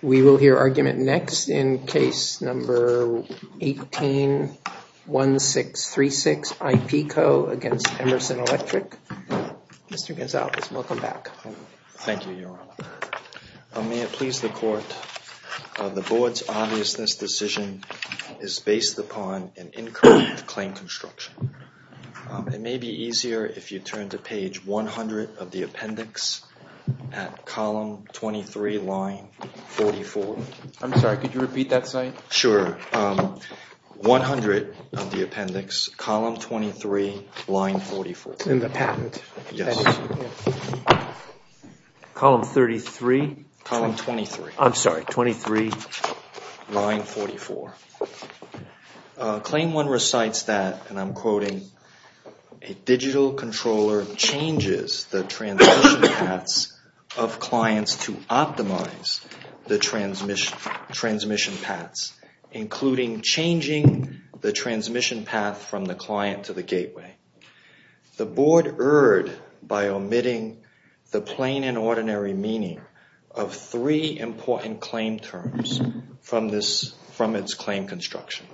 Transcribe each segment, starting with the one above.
We will hear argument next in case number 18-1636, IP Co., v. Emerson Electric. Mr. Gonzalez, welcome back. Thank you, Your Honor. May it please the Court, the Board's obviousness decision is based upon an incorrect claim construction. It may be easier if you turn to page 100 of the appendix at column 23, line 44. I'm sorry, could you repeat that, sir? Sure. 100 of the appendix, column 23, line 44. In the patent? Yes. Column 33? Column 23. I'm sorry, 23, line 44. A digital controller changes the transmission paths of clients to optimize the transmission paths, including changing the transmission path from the client to the gateway. The Board erred by omitting the plain and ordinary meaning of three important claim terms from its claim construction.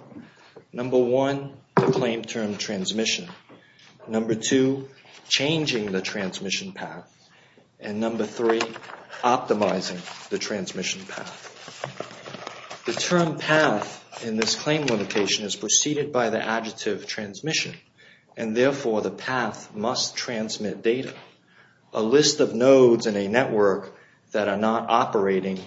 Number one, the claim term transmission. Number two, changing the transmission path. And number three, optimizing the transmission path. The term path in this claim limitation is preceded by the adjective transmission, and therefore the path must transmit data. A list of nodes in a network that are not operating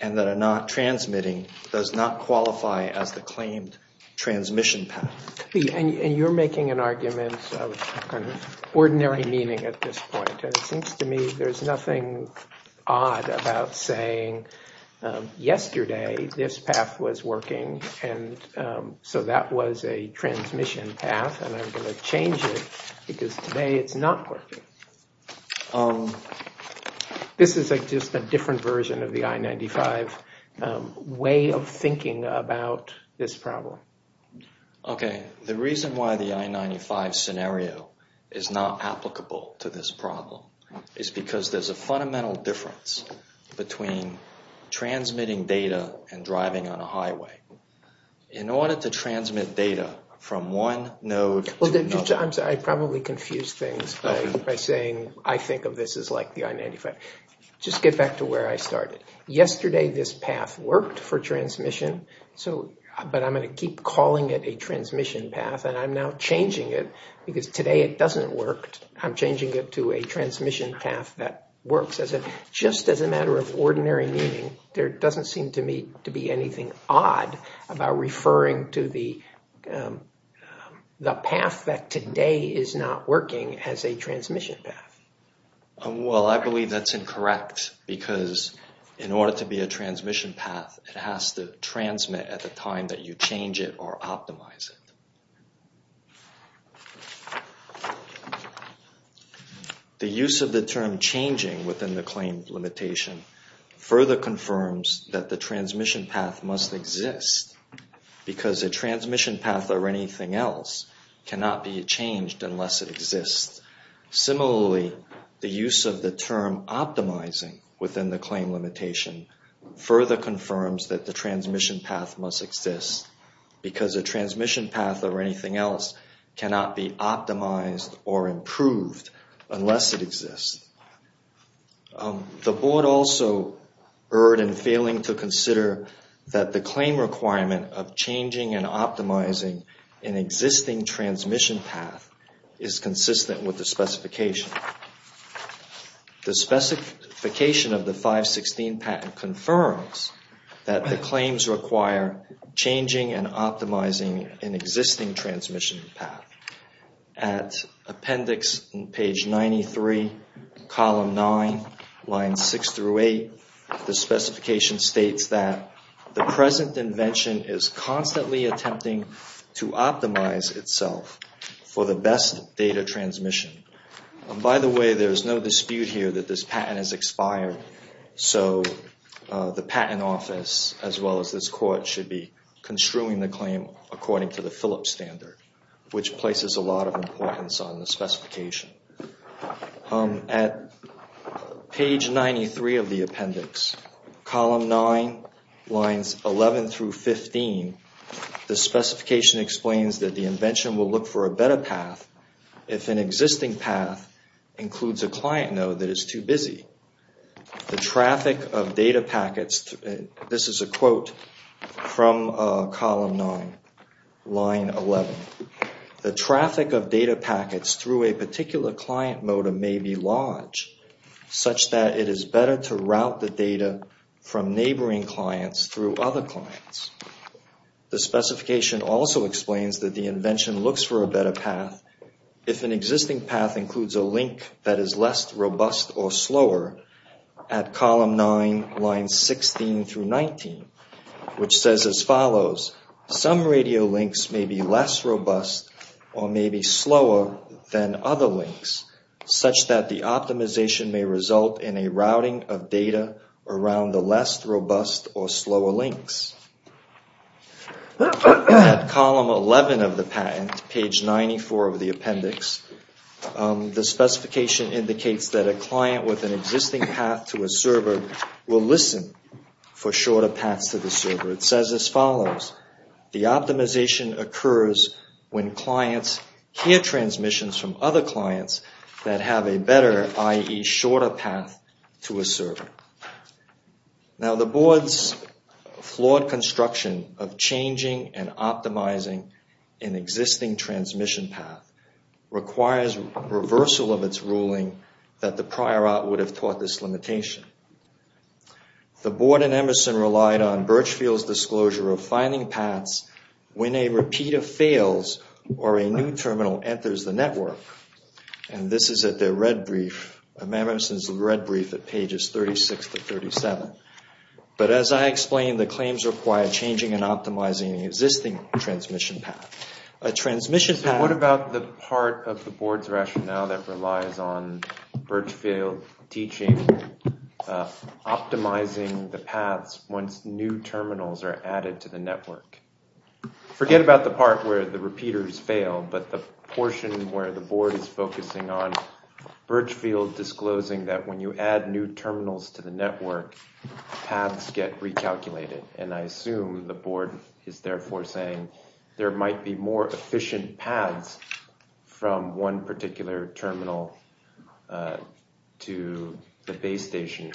and that are not transmitting does not qualify as the claimed transmission path. And you're making an argument of ordinary meaning at this point, and it seems to me there's nothing odd about saying yesterday this path was working, and so that was a transmission path, and I'm going to change it because today it's not working. This is just a different version of the I-95 way of thinking about this problem. Okay, the reason why the I-95 scenario is not applicable to this problem is because there's a fundamental difference between transmitting data and driving on a highway. In order to transmit data from one node to another... I'm sorry, I probably confused things by saying I think of this as like the I-95. Just get back to where I started. Yesterday this path worked for transmission, but I'm going to keep calling it a transmission path, and I'm now changing it because today it doesn't work. I'm changing it to a transmission path that works. Just as a matter of ordinary meaning, there doesn't seem to me to be anything odd about referring to the path that today is not working as a transmission path. Well, I believe that's incorrect because in order to be a transmission path, it has to transmit at the time that you change it or optimize it. The use of the term changing within the claim limitation further confirms that the transmission path must exist because a transmission path or anything else cannot be changed unless it exists. Similarly, the use of the term optimizing within the claim limitation further confirms that the transmission path must exist because a transmission path or anything else cannot be optimized or improved unless it exists. The Board also erred in failing to consider that the claim requirement of changing and optimizing an existing transmission path is consistent with the specification. The specification of the 516 patent confirms that the claims require changing and optimizing an existing transmission path. At appendix page 93, column 9, lines 6 through 8, the specification states that the present invention is constantly attempting to optimize itself for the best data transmission. By the way, there's no dispute here that this patent has expired. So the Patent Office as well as this Court should be construing the claim according to the Phillips standard, which places a lot of importance on the specification. At page 93 of the appendix, column 9, lines 11 through 15, the specification explains that the invention will look for a better path if an existing path includes a client node that is too busy. The traffic of data packets, this is a quote from column 9, line 11, the traffic of data packets through a particular client node may be large such that it is better to route the data from neighboring clients through other clients. The specification also explains that the invention looks for a better path if an existing path includes a link that is less robust or slower at column 9, lines 16 through 19, which says as follows, some radio links may be less robust or may be slower than other links such that the optimization may result in a routing of data around the less robust or slower links. At column 11 of the patent, page 94 of the appendix, the specification indicates that a client with an existing path to a server will listen for shorter paths to the server. It says as follows, the optimization occurs when clients hear transmissions from other clients that have a better, i.e., shorter path to a server. Now, the board's flawed construction of changing and optimizing an existing transmission path requires reversal of its ruling that the prior art would have taught this limitation. The board in Emerson relied on Birchfield's disclosure of finding paths when a repeater fails or a new terminal enters the network. And this is at their red brief. And Emerson's red brief at pages 36 to 37. But as I explained, the claims require changing and optimizing an existing transmission path. What about the part of the board's rationale that relies on Birchfield teaching optimizing the paths once new terminals are added to the network? Forget about the part where the repeaters fail, but the portion where the board is focusing on Birchfield disclosing that when you add new terminals to the network, paths get recalculated. And I assume the board is therefore saying there might be more efficient paths from one particular terminal to the base station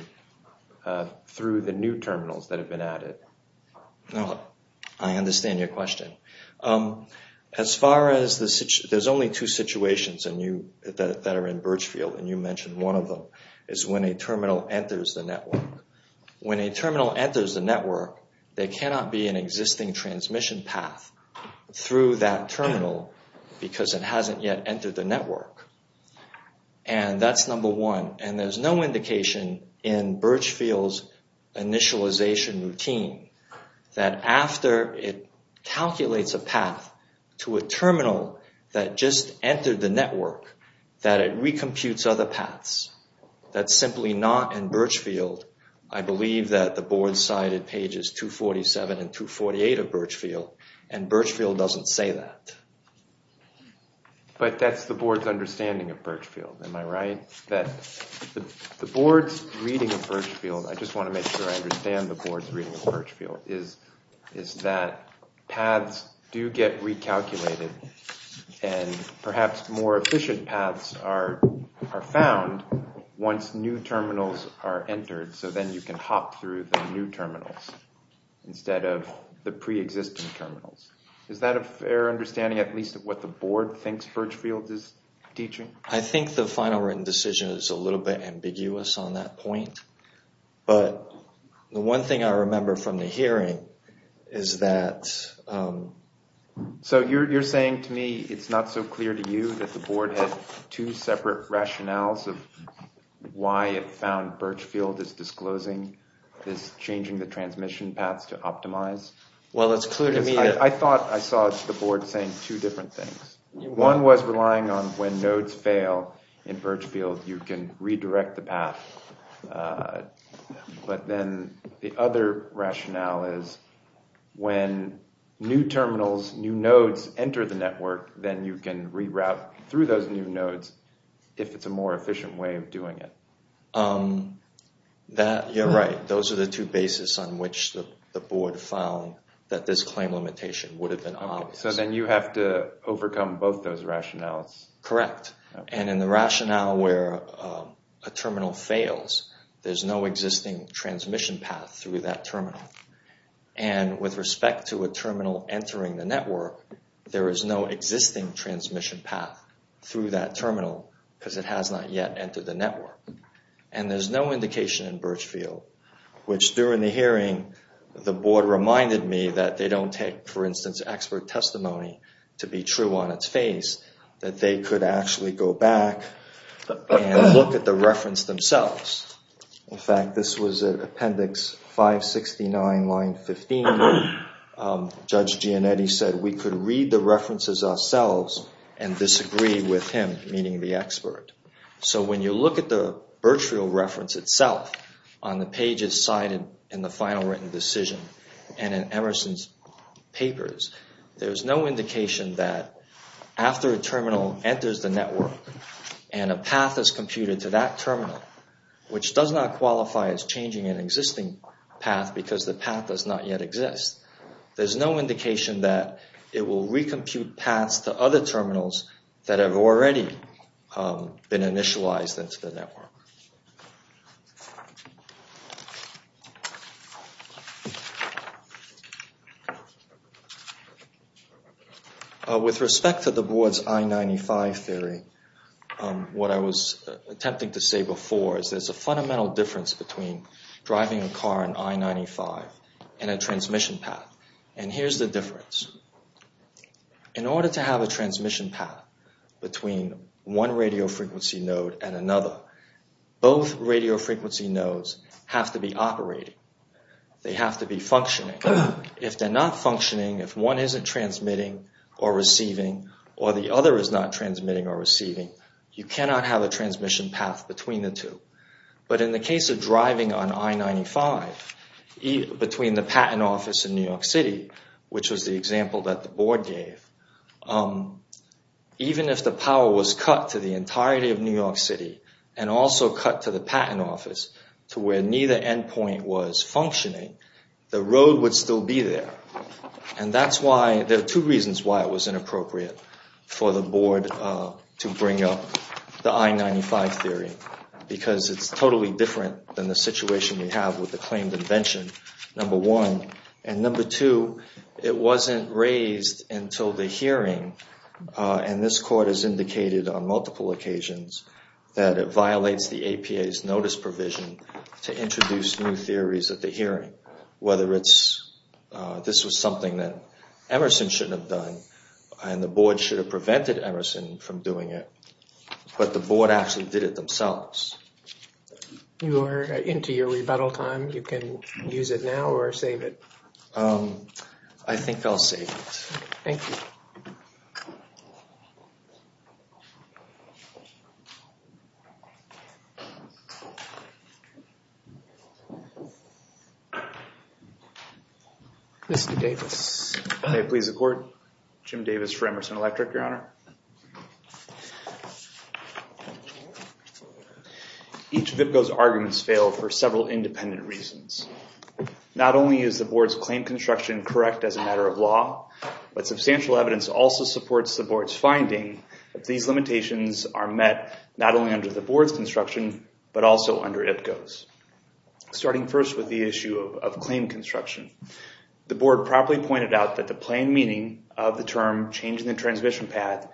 through the new terminals that have been added. I understand your question. There's only two situations that are in Birchfield, and you mentioned one of them, is when a terminal enters the network. When a terminal enters the network, there cannot be an existing transmission path through that terminal because it hasn't yet entered the network. And that's number one. And there's no indication in Birchfield's initialization routine that after it calculates a path to a terminal that just entered the network, that it recomputes other paths. That's simply not in Birchfield. I believe that the board cited pages 247 and 248 of Birchfield, and Birchfield doesn't say that. But that's the board's understanding of Birchfield, am I right? The board's reading of Birchfield, I just want to make sure I understand the board's reading of Birchfield, is that paths do get recalculated, and perhaps more efficient paths are found once new terminals are entered, so then you can hop through the new terminals instead of the preexisting terminals. Is that a fair understanding at least of what the board thinks Birchfield is teaching? I think the final written decision is a little bit ambiguous on that point. But the one thing I remember from the hearing is that... So you're saying to me it's not so clear to you that the board had two separate rationales of why it found Birchfield is disclosing, is changing the transmission paths to optimize? Well, it's clear to me that... I thought I saw the board saying two different things. One was relying on when nodes fail in Birchfield, you can redirect the path. But then the other rationale is when new terminals, new nodes enter the network, then you can reroute through those new nodes if it's a more efficient way of doing it. You're right, those are the two bases on which the board found that this claim limitation would have been obvious. So then you have to overcome both those rationales. Correct. And in the rationale where a terminal fails, there's no existing transmission path through that terminal. And with respect to a terminal entering the network, there is no existing transmission path through that terminal because it has not yet entered the network. And there's no indication in Birchfield, which during the hearing the board reminded me that they don't take, for instance, expert testimony to be true on its face, that they could actually go back and look at the reference themselves. In fact, this was Appendix 569, line 15. Judge Gianetti said we could read the references ourselves and disagree with him, meaning the expert. So when you look at the Birchfield reference itself, on the pages cited in the final written decision and in Emerson's papers, there's no indication that after a terminal enters the network and a path is computed to that terminal, which does not qualify as changing an existing path because the path does not yet exist, there's no indication that it will recompute paths to other terminals that have already been initialized into the network. With respect to the board's I-95 theory, what I was attempting to say before is there's a fundamental difference between driving a car in I-95 and a transmission path. And here's the difference. In order to have a transmission path between one radio frequency node and another, both radio frequency nodes have to be operating. They have to be functioning. If they're not functioning, if one isn't transmitting or receiving, or the other is not transmitting or receiving, you cannot have a transmission path between the two. But in the case of driving on I-95, between the patent office in New York City, which was the example that the board gave, even if the power was cut to the entirety of New York City and also cut to the patent office, to where neither endpoint was functioning, the road would still be there. And that's why, there are two reasons why it was inappropriate for the board to bring up the I-95 theory. Because it's totally different than the situation we have with the claimed invention, number one. And number two, it wasn't raised until the hearing, and this court has indicated on multiple occasions that it violates the APA's notice provision to introduce new theories at the hearing. Whether this was something that Emerson shouldn't have done, and the board should have prevented Emerson from doing it, but the board actually did it themselves. You are into your rebuttal time. You can use it now or save it. I think I'll save it. Thank you. Mr. Davis. May it please the court. Jim Davis for Emerson Electric, Your Honor. Each of those arguments failed for several independent reasons. Not only is the board's claim construction correct as a matter of law, but substantial evidence also supports the board's finding that these limitations are met not only under the board's construction, but also under IPCO's. Starting first with the issue of claim construction. The board properly pointed out that the plain meaning of the term changing the transmission path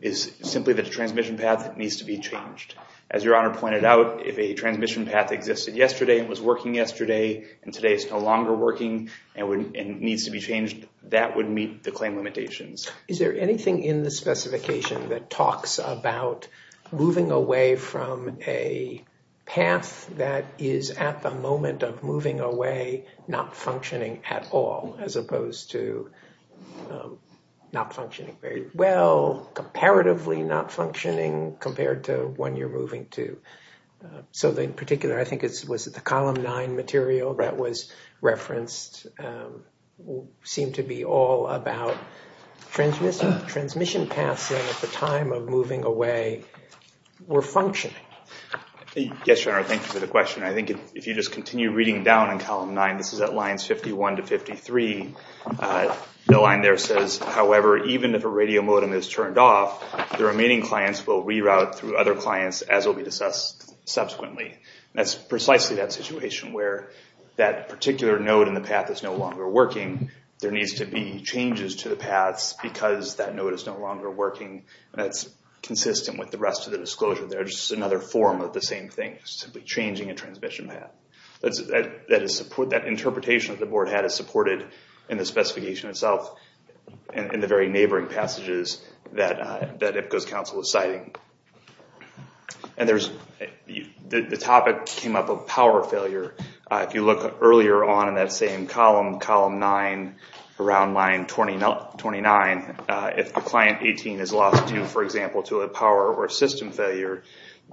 is simply the transmission path that needs to be changed. As Your Honor pointed out, if a transmission path existed yesterday and was working yesterday and today is no longer working and needs to be changed, that would meet the claim limitations. Is there anything in the specification that talks about moving away from a path that is at the moment of moving away not functioning at all, as opposed to not functioning very well, comparatively not functioning compared to when you're moving to? So in particular, I think it was the Column 9 material that was referenced seemed to be all about transmission paths at the time of moving away were functioning. Yes, Your Honor, thank you for the question. I think if you just continue reading down in Column 9, this is at lines 51 to 53. The line there says, however, even if a radio modem is turned off, the remaining clients will reroute through other clients as will be assessed subsequently. That's precisely that situation where that particular node in the path is no longer working. There needs to be changes to the paths because that node is no longer working. That's consistent with the rest of the disclosure. There's another form of the same thing, simply changing a transmission path. That interpretation that the board had is supported in the specification itself in the very neighboring passages that IPCO's counsel is citing. The topic came up of power failure. If you look earlier on in that same column, Column 9, around line 29, if the Client 18 is lost, for example, to a power or system failure,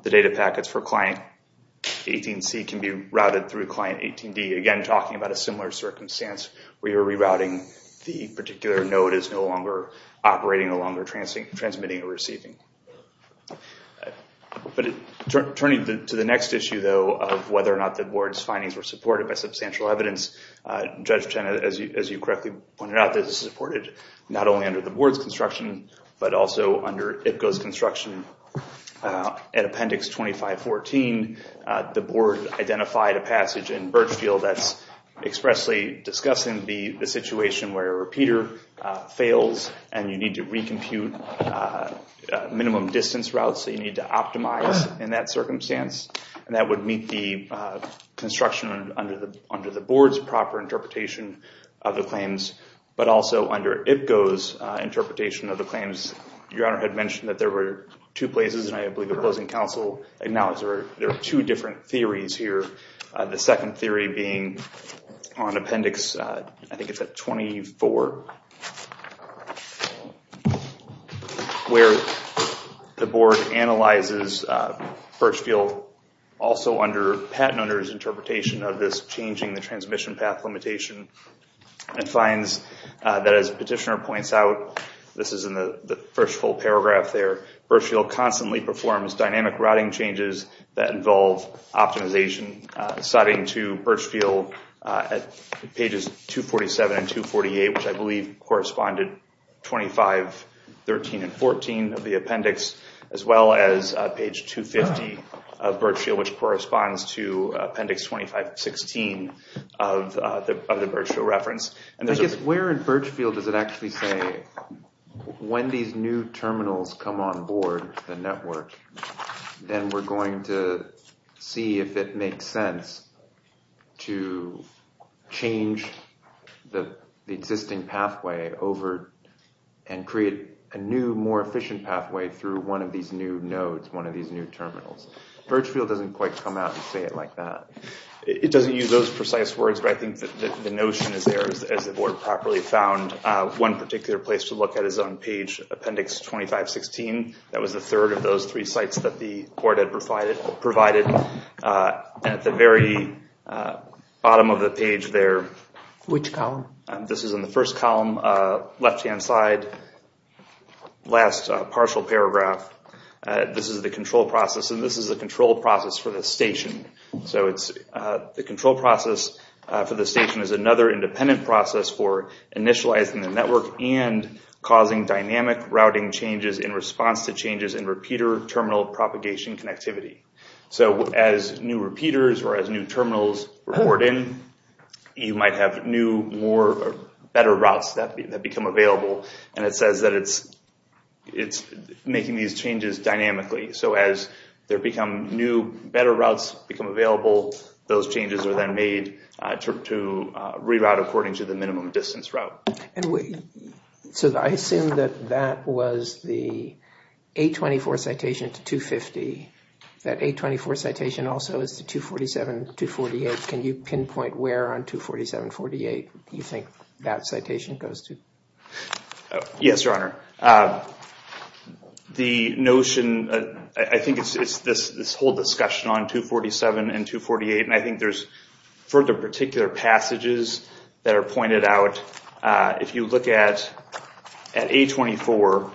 the data packets for Client 18C can be routed through Client 18D, again talking about a similar circumstance where you're rerouting the particular node as no longer operating, no longer transmitting or receiving. Turning to the next issue, though, of whether or not the board's findings were supported by substantial evidence, Judge Chen, as you correctly pointed out, this is supported not only under the board's construction but also under IPCO's construction. At Appendix 2514, the board identified a passage in Birchfield that's expressly discussing the situation where a repeater fails and you need to recompute minimum distance routes that you need to optimize in that circumstance. That would meet the construction under the board's proper interpretation of the claims, but also under IPCO's interpretation of the claims. Your Honor had mentioned that there were two places, and I believe the closing counsel acknowledged there are two different theories here, the second theory being on Appendix 24, where the board analyzes Birchfield also under Pat Nutter's interpretation of this changing the transmission path limitation and finds that as Petitioner points out, this is in the first full paragraph there, Birchfield constantly performs dynamic routing changes that involve optimization citing to Birchfield at pages 247 and 248, which I believe corresponded 2513 and 14 of the appendix, as well as page 250 of Birchfield, which corresponds to appendix 2516 of the Birchfield reference. Where in Birchfield does it actually say, when these new terminals come on board the network, then we're going to see if it makes sense to change the existing pathway over and create a new, more efficient pathway through one of these new nodes, one of these new terminals. Birchfield doesn't quite come out and say it like that. It doesn't use those precise words, but I think the notion is there as the board properly found one particular place to look at is on page appendix 2516. That was the third of those three sites that the board had provided at the very bottom of the page there. Which column? This is in the first column, left-hand side, last partial paragraph. This is the control process, and this is the control process for the station. The control process for the station is another independent process for initializing the network and causing dynamic routing changes in response to changes in repeater terminal propagation connectivity. As new repeaters or as new terminals report in, you might have new, better routes that become available. It says that it's making these changes dynamically. As new, better routes become available, those changes are then made to reroute according to the minimum distance route. I assume that that was the 824 citation to 250. That 824 citation also is to 247, 248. Can you pinpoint where on 247, 248 you think that citation goes to? Yes, Your Honor. The notion, I think it's this whole discussion on 247 and 248, and I think there's further particular passages that are pointed out. If you look at 824,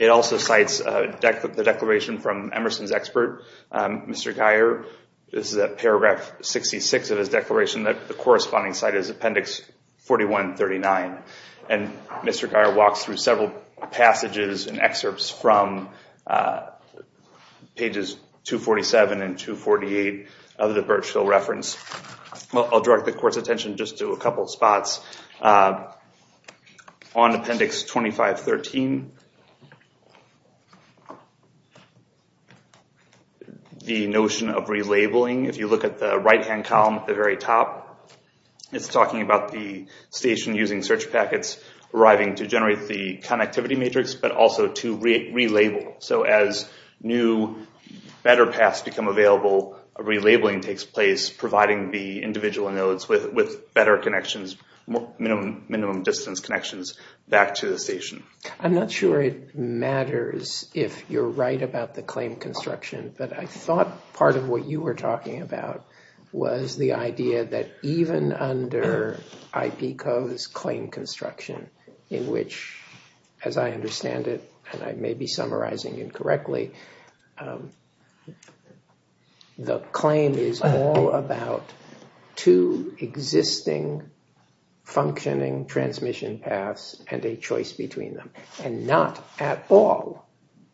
it also cites the declaration from Emerson's expert, Mr. Geyer. This is at paragraph 66 of his declaration that the corresponding site is Appendix 4139. Mr. Geyer walks through several passages and excerpts from pages 247 and 248 of the Birchville reference. I'll direct the Court's attention just to a couple spots. On Appendix 2513, the notion of relabeling, if you look at the right-hand column at the very top, it's talking about the station using search packets arriving to generate the connectivity matrix, but also to relabel. So as new, better paths become available, relabeling takes place, providing the individual nodes with better connections, minimum distance connections, back to the station. I'm not sure it matters if you're right about the claim construction, but I thought part of what you were talking about was the idea that even under IP Code's claim construction, in which, as I understand it, and I may be summarizing incorrectly, the claim is all about two existing functioning transmission paths and a choice between them, and not at all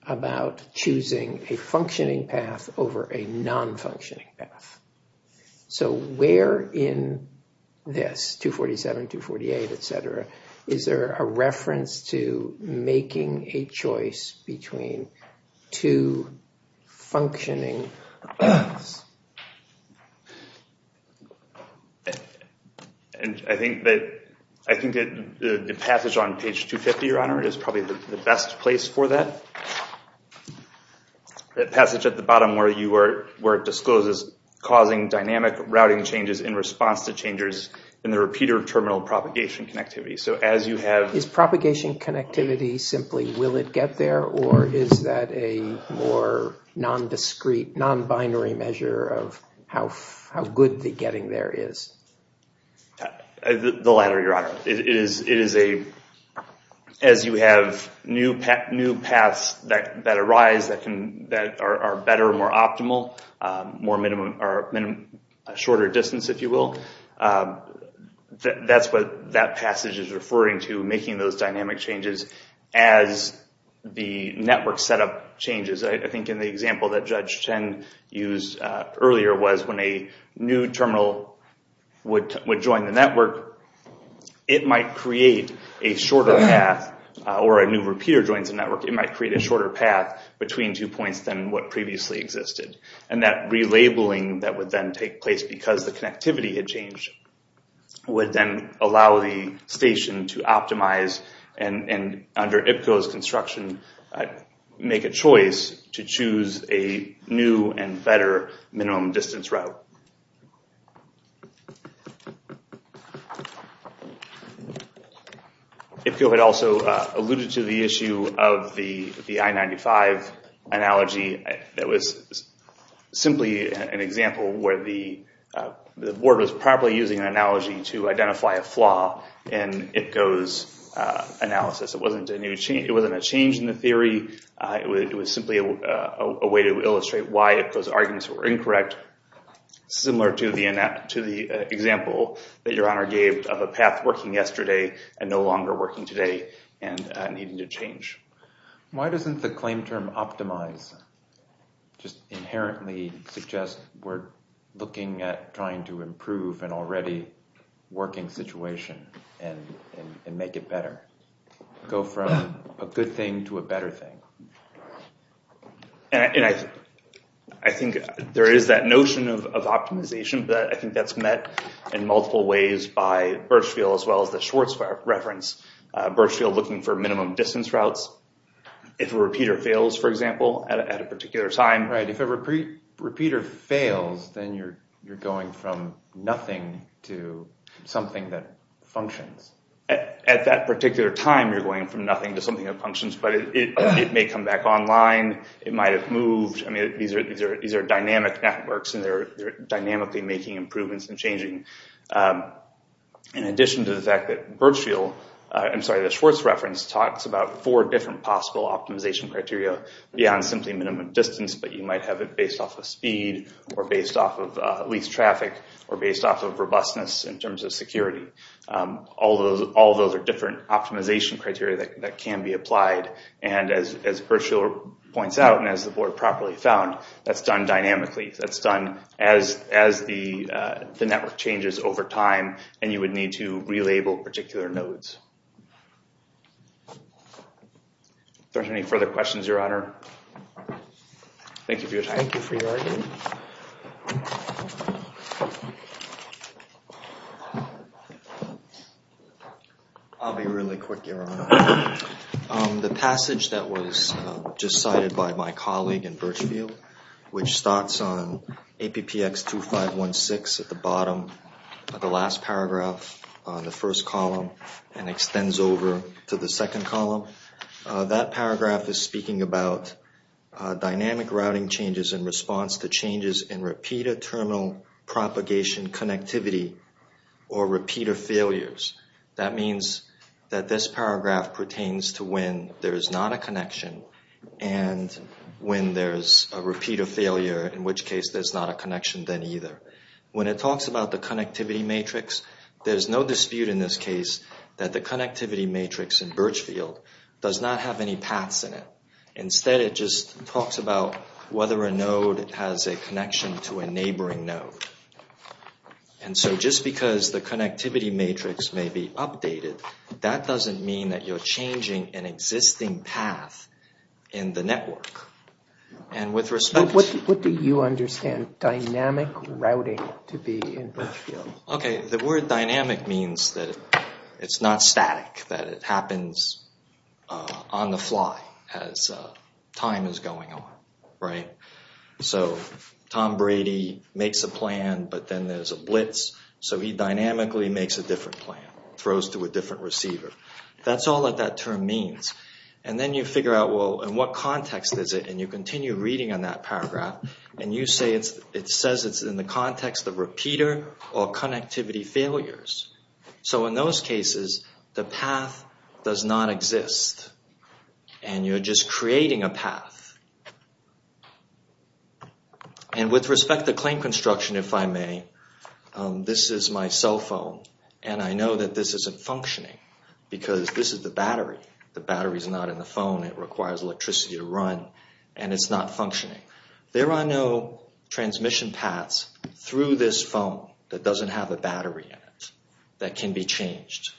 about choosing a functioning path over a non-functioning path. So where in this, 247, 248, etc., is there a reference to making a choice between two functioning paths? I think that the passage on page 250, Your Honor, is probably the best place for that. That passage at the bottom where it discloses causing dynamic routing changes in response to changes in the repeater terminal propagation connectivity. Is propagation connectivity simply will it get there, or is that a more non-discrete, non-binary measure of how good the getting there is? The latter, Your Honor. It is a, as you have new paths that arise that are better, more optimal, shorter distance, if you will, that's what that passage is referring to, making those dynamic changes as the network setup changes. I think in the example that Judge Chen used earlier was when a new terminal would join the network, it might create a shorter path, or a new repeater joins the network, it might create a shorter path between two points than what previously existed. And that relabeling that would then take place because the connectivity had changed would then allow the station to optimize and under IPCO's construction make a choice to choose a new and better minimum distance route. IPCO had also alluded to the issue of the I-95 analogy that was simply an example where the board was probably using an analogy to identify a flaw in IPCO's analysis. It wasn't a change in the theory, it was simply a way to illustrate why IPCO's arguments were incorrect. Similar to the example that Your Honor gave of a path working yesterday and no longer working today and needing to change. Why doesn't the claim term optimize just inherently suggest we're looking at trying to improve an already working situation and make it better? Go from a good thing to a better thing. And I think there is that notion of optimization that I think that's met in multiple ways by Birchfield as well as the Schwartz reference. Birchfield looking for minimum distance routes. If a repeater fails, for example, at a particular time. Right, if a repeater fails then you're going from nothing to something that functions. At that particular time you're going from nothing to something that functions but it may come back online, it might have moved. These are dynamic networks and they're dynamically making improvements and changing. In addition to the fact that Birchfield, I'm sorry, the Schwartz reference talks about four different possible optimization criteria beyond simply minimum distance but you might have it based off of speed or based off of least traffic or based off of robustness in terms of security. All those are different optimization criteria that can be applied. And as Birchfield points out and as the board properly found, that's done dynamically. That's done as the network changes over time and you would need to relabel particular nodes. Are there any further questions, your honor? Thank you for your time. Thank you for your argument. I'll be really quick, your honor. The passage that was just cited by my colleague in Birchfield, which starts on APPX2516 at the bottom of the last paragraph on the first column and extends over to the second column. That paragraph is speaking about dynamic routing changes in response to changes in repeater terminal propagation connectivity or repeater failures. That means that this paragraph pertains to when there is not a connection and when there's a repeater failure, in which case there's not a connection then either. When it talks about the connectivity matrix, there's no dispute in this case that the connectivity matrix in Birchfield does not have any paths in it. Instead, it just talks about whether a node has a connection to a neighboring node. And so just because the connectivity matrix may be updated, that doesn't mean that you're changing an existing path in the network. And with respect to... What do you understand dynamic routing to be in Birchfield? Okay, the word dynamic means that it's not static, that it happens on the fly as time is going on, right? So Tom Brady makes a plan, but then there's a blitz, so he dynamically makes a different plan, throws to a different receiver. That's all that that term means. And then you figure out, well, in what context is it? And you continue reading on that paragraph, and you say it says it's in the context of repeater or connectivity failures. So in those cases, the path does not exist. And you're just creating a path. And with respect to claim construction, if I may, this is my cell phone, and I know that this isn't functioning, because this is the battery. The battery is not in the phone. It requires electricity to run, and it's not functioning. There are no transmission paths through this phone that doesn't have a battery in it. That can be changed.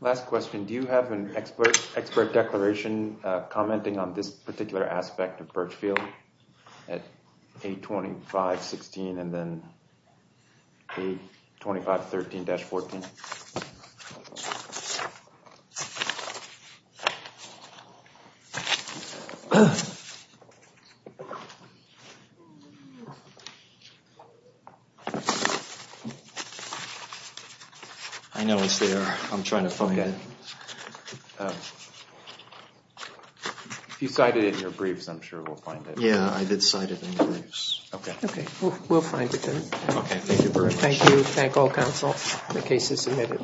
Last question, do you have an expert declaration commenting on this particular aspect of Birchfield at 825.16 and then 825.13-14? I know it's there. I'm trying to find it. If you cited it in your briefs, I'm sure we'll find it. Yeah, I did cite it in the briefs. Okay, we'll find it then. Okay, thank you very much. Thank you. Thank all counsel. The case is submitted. Thank you.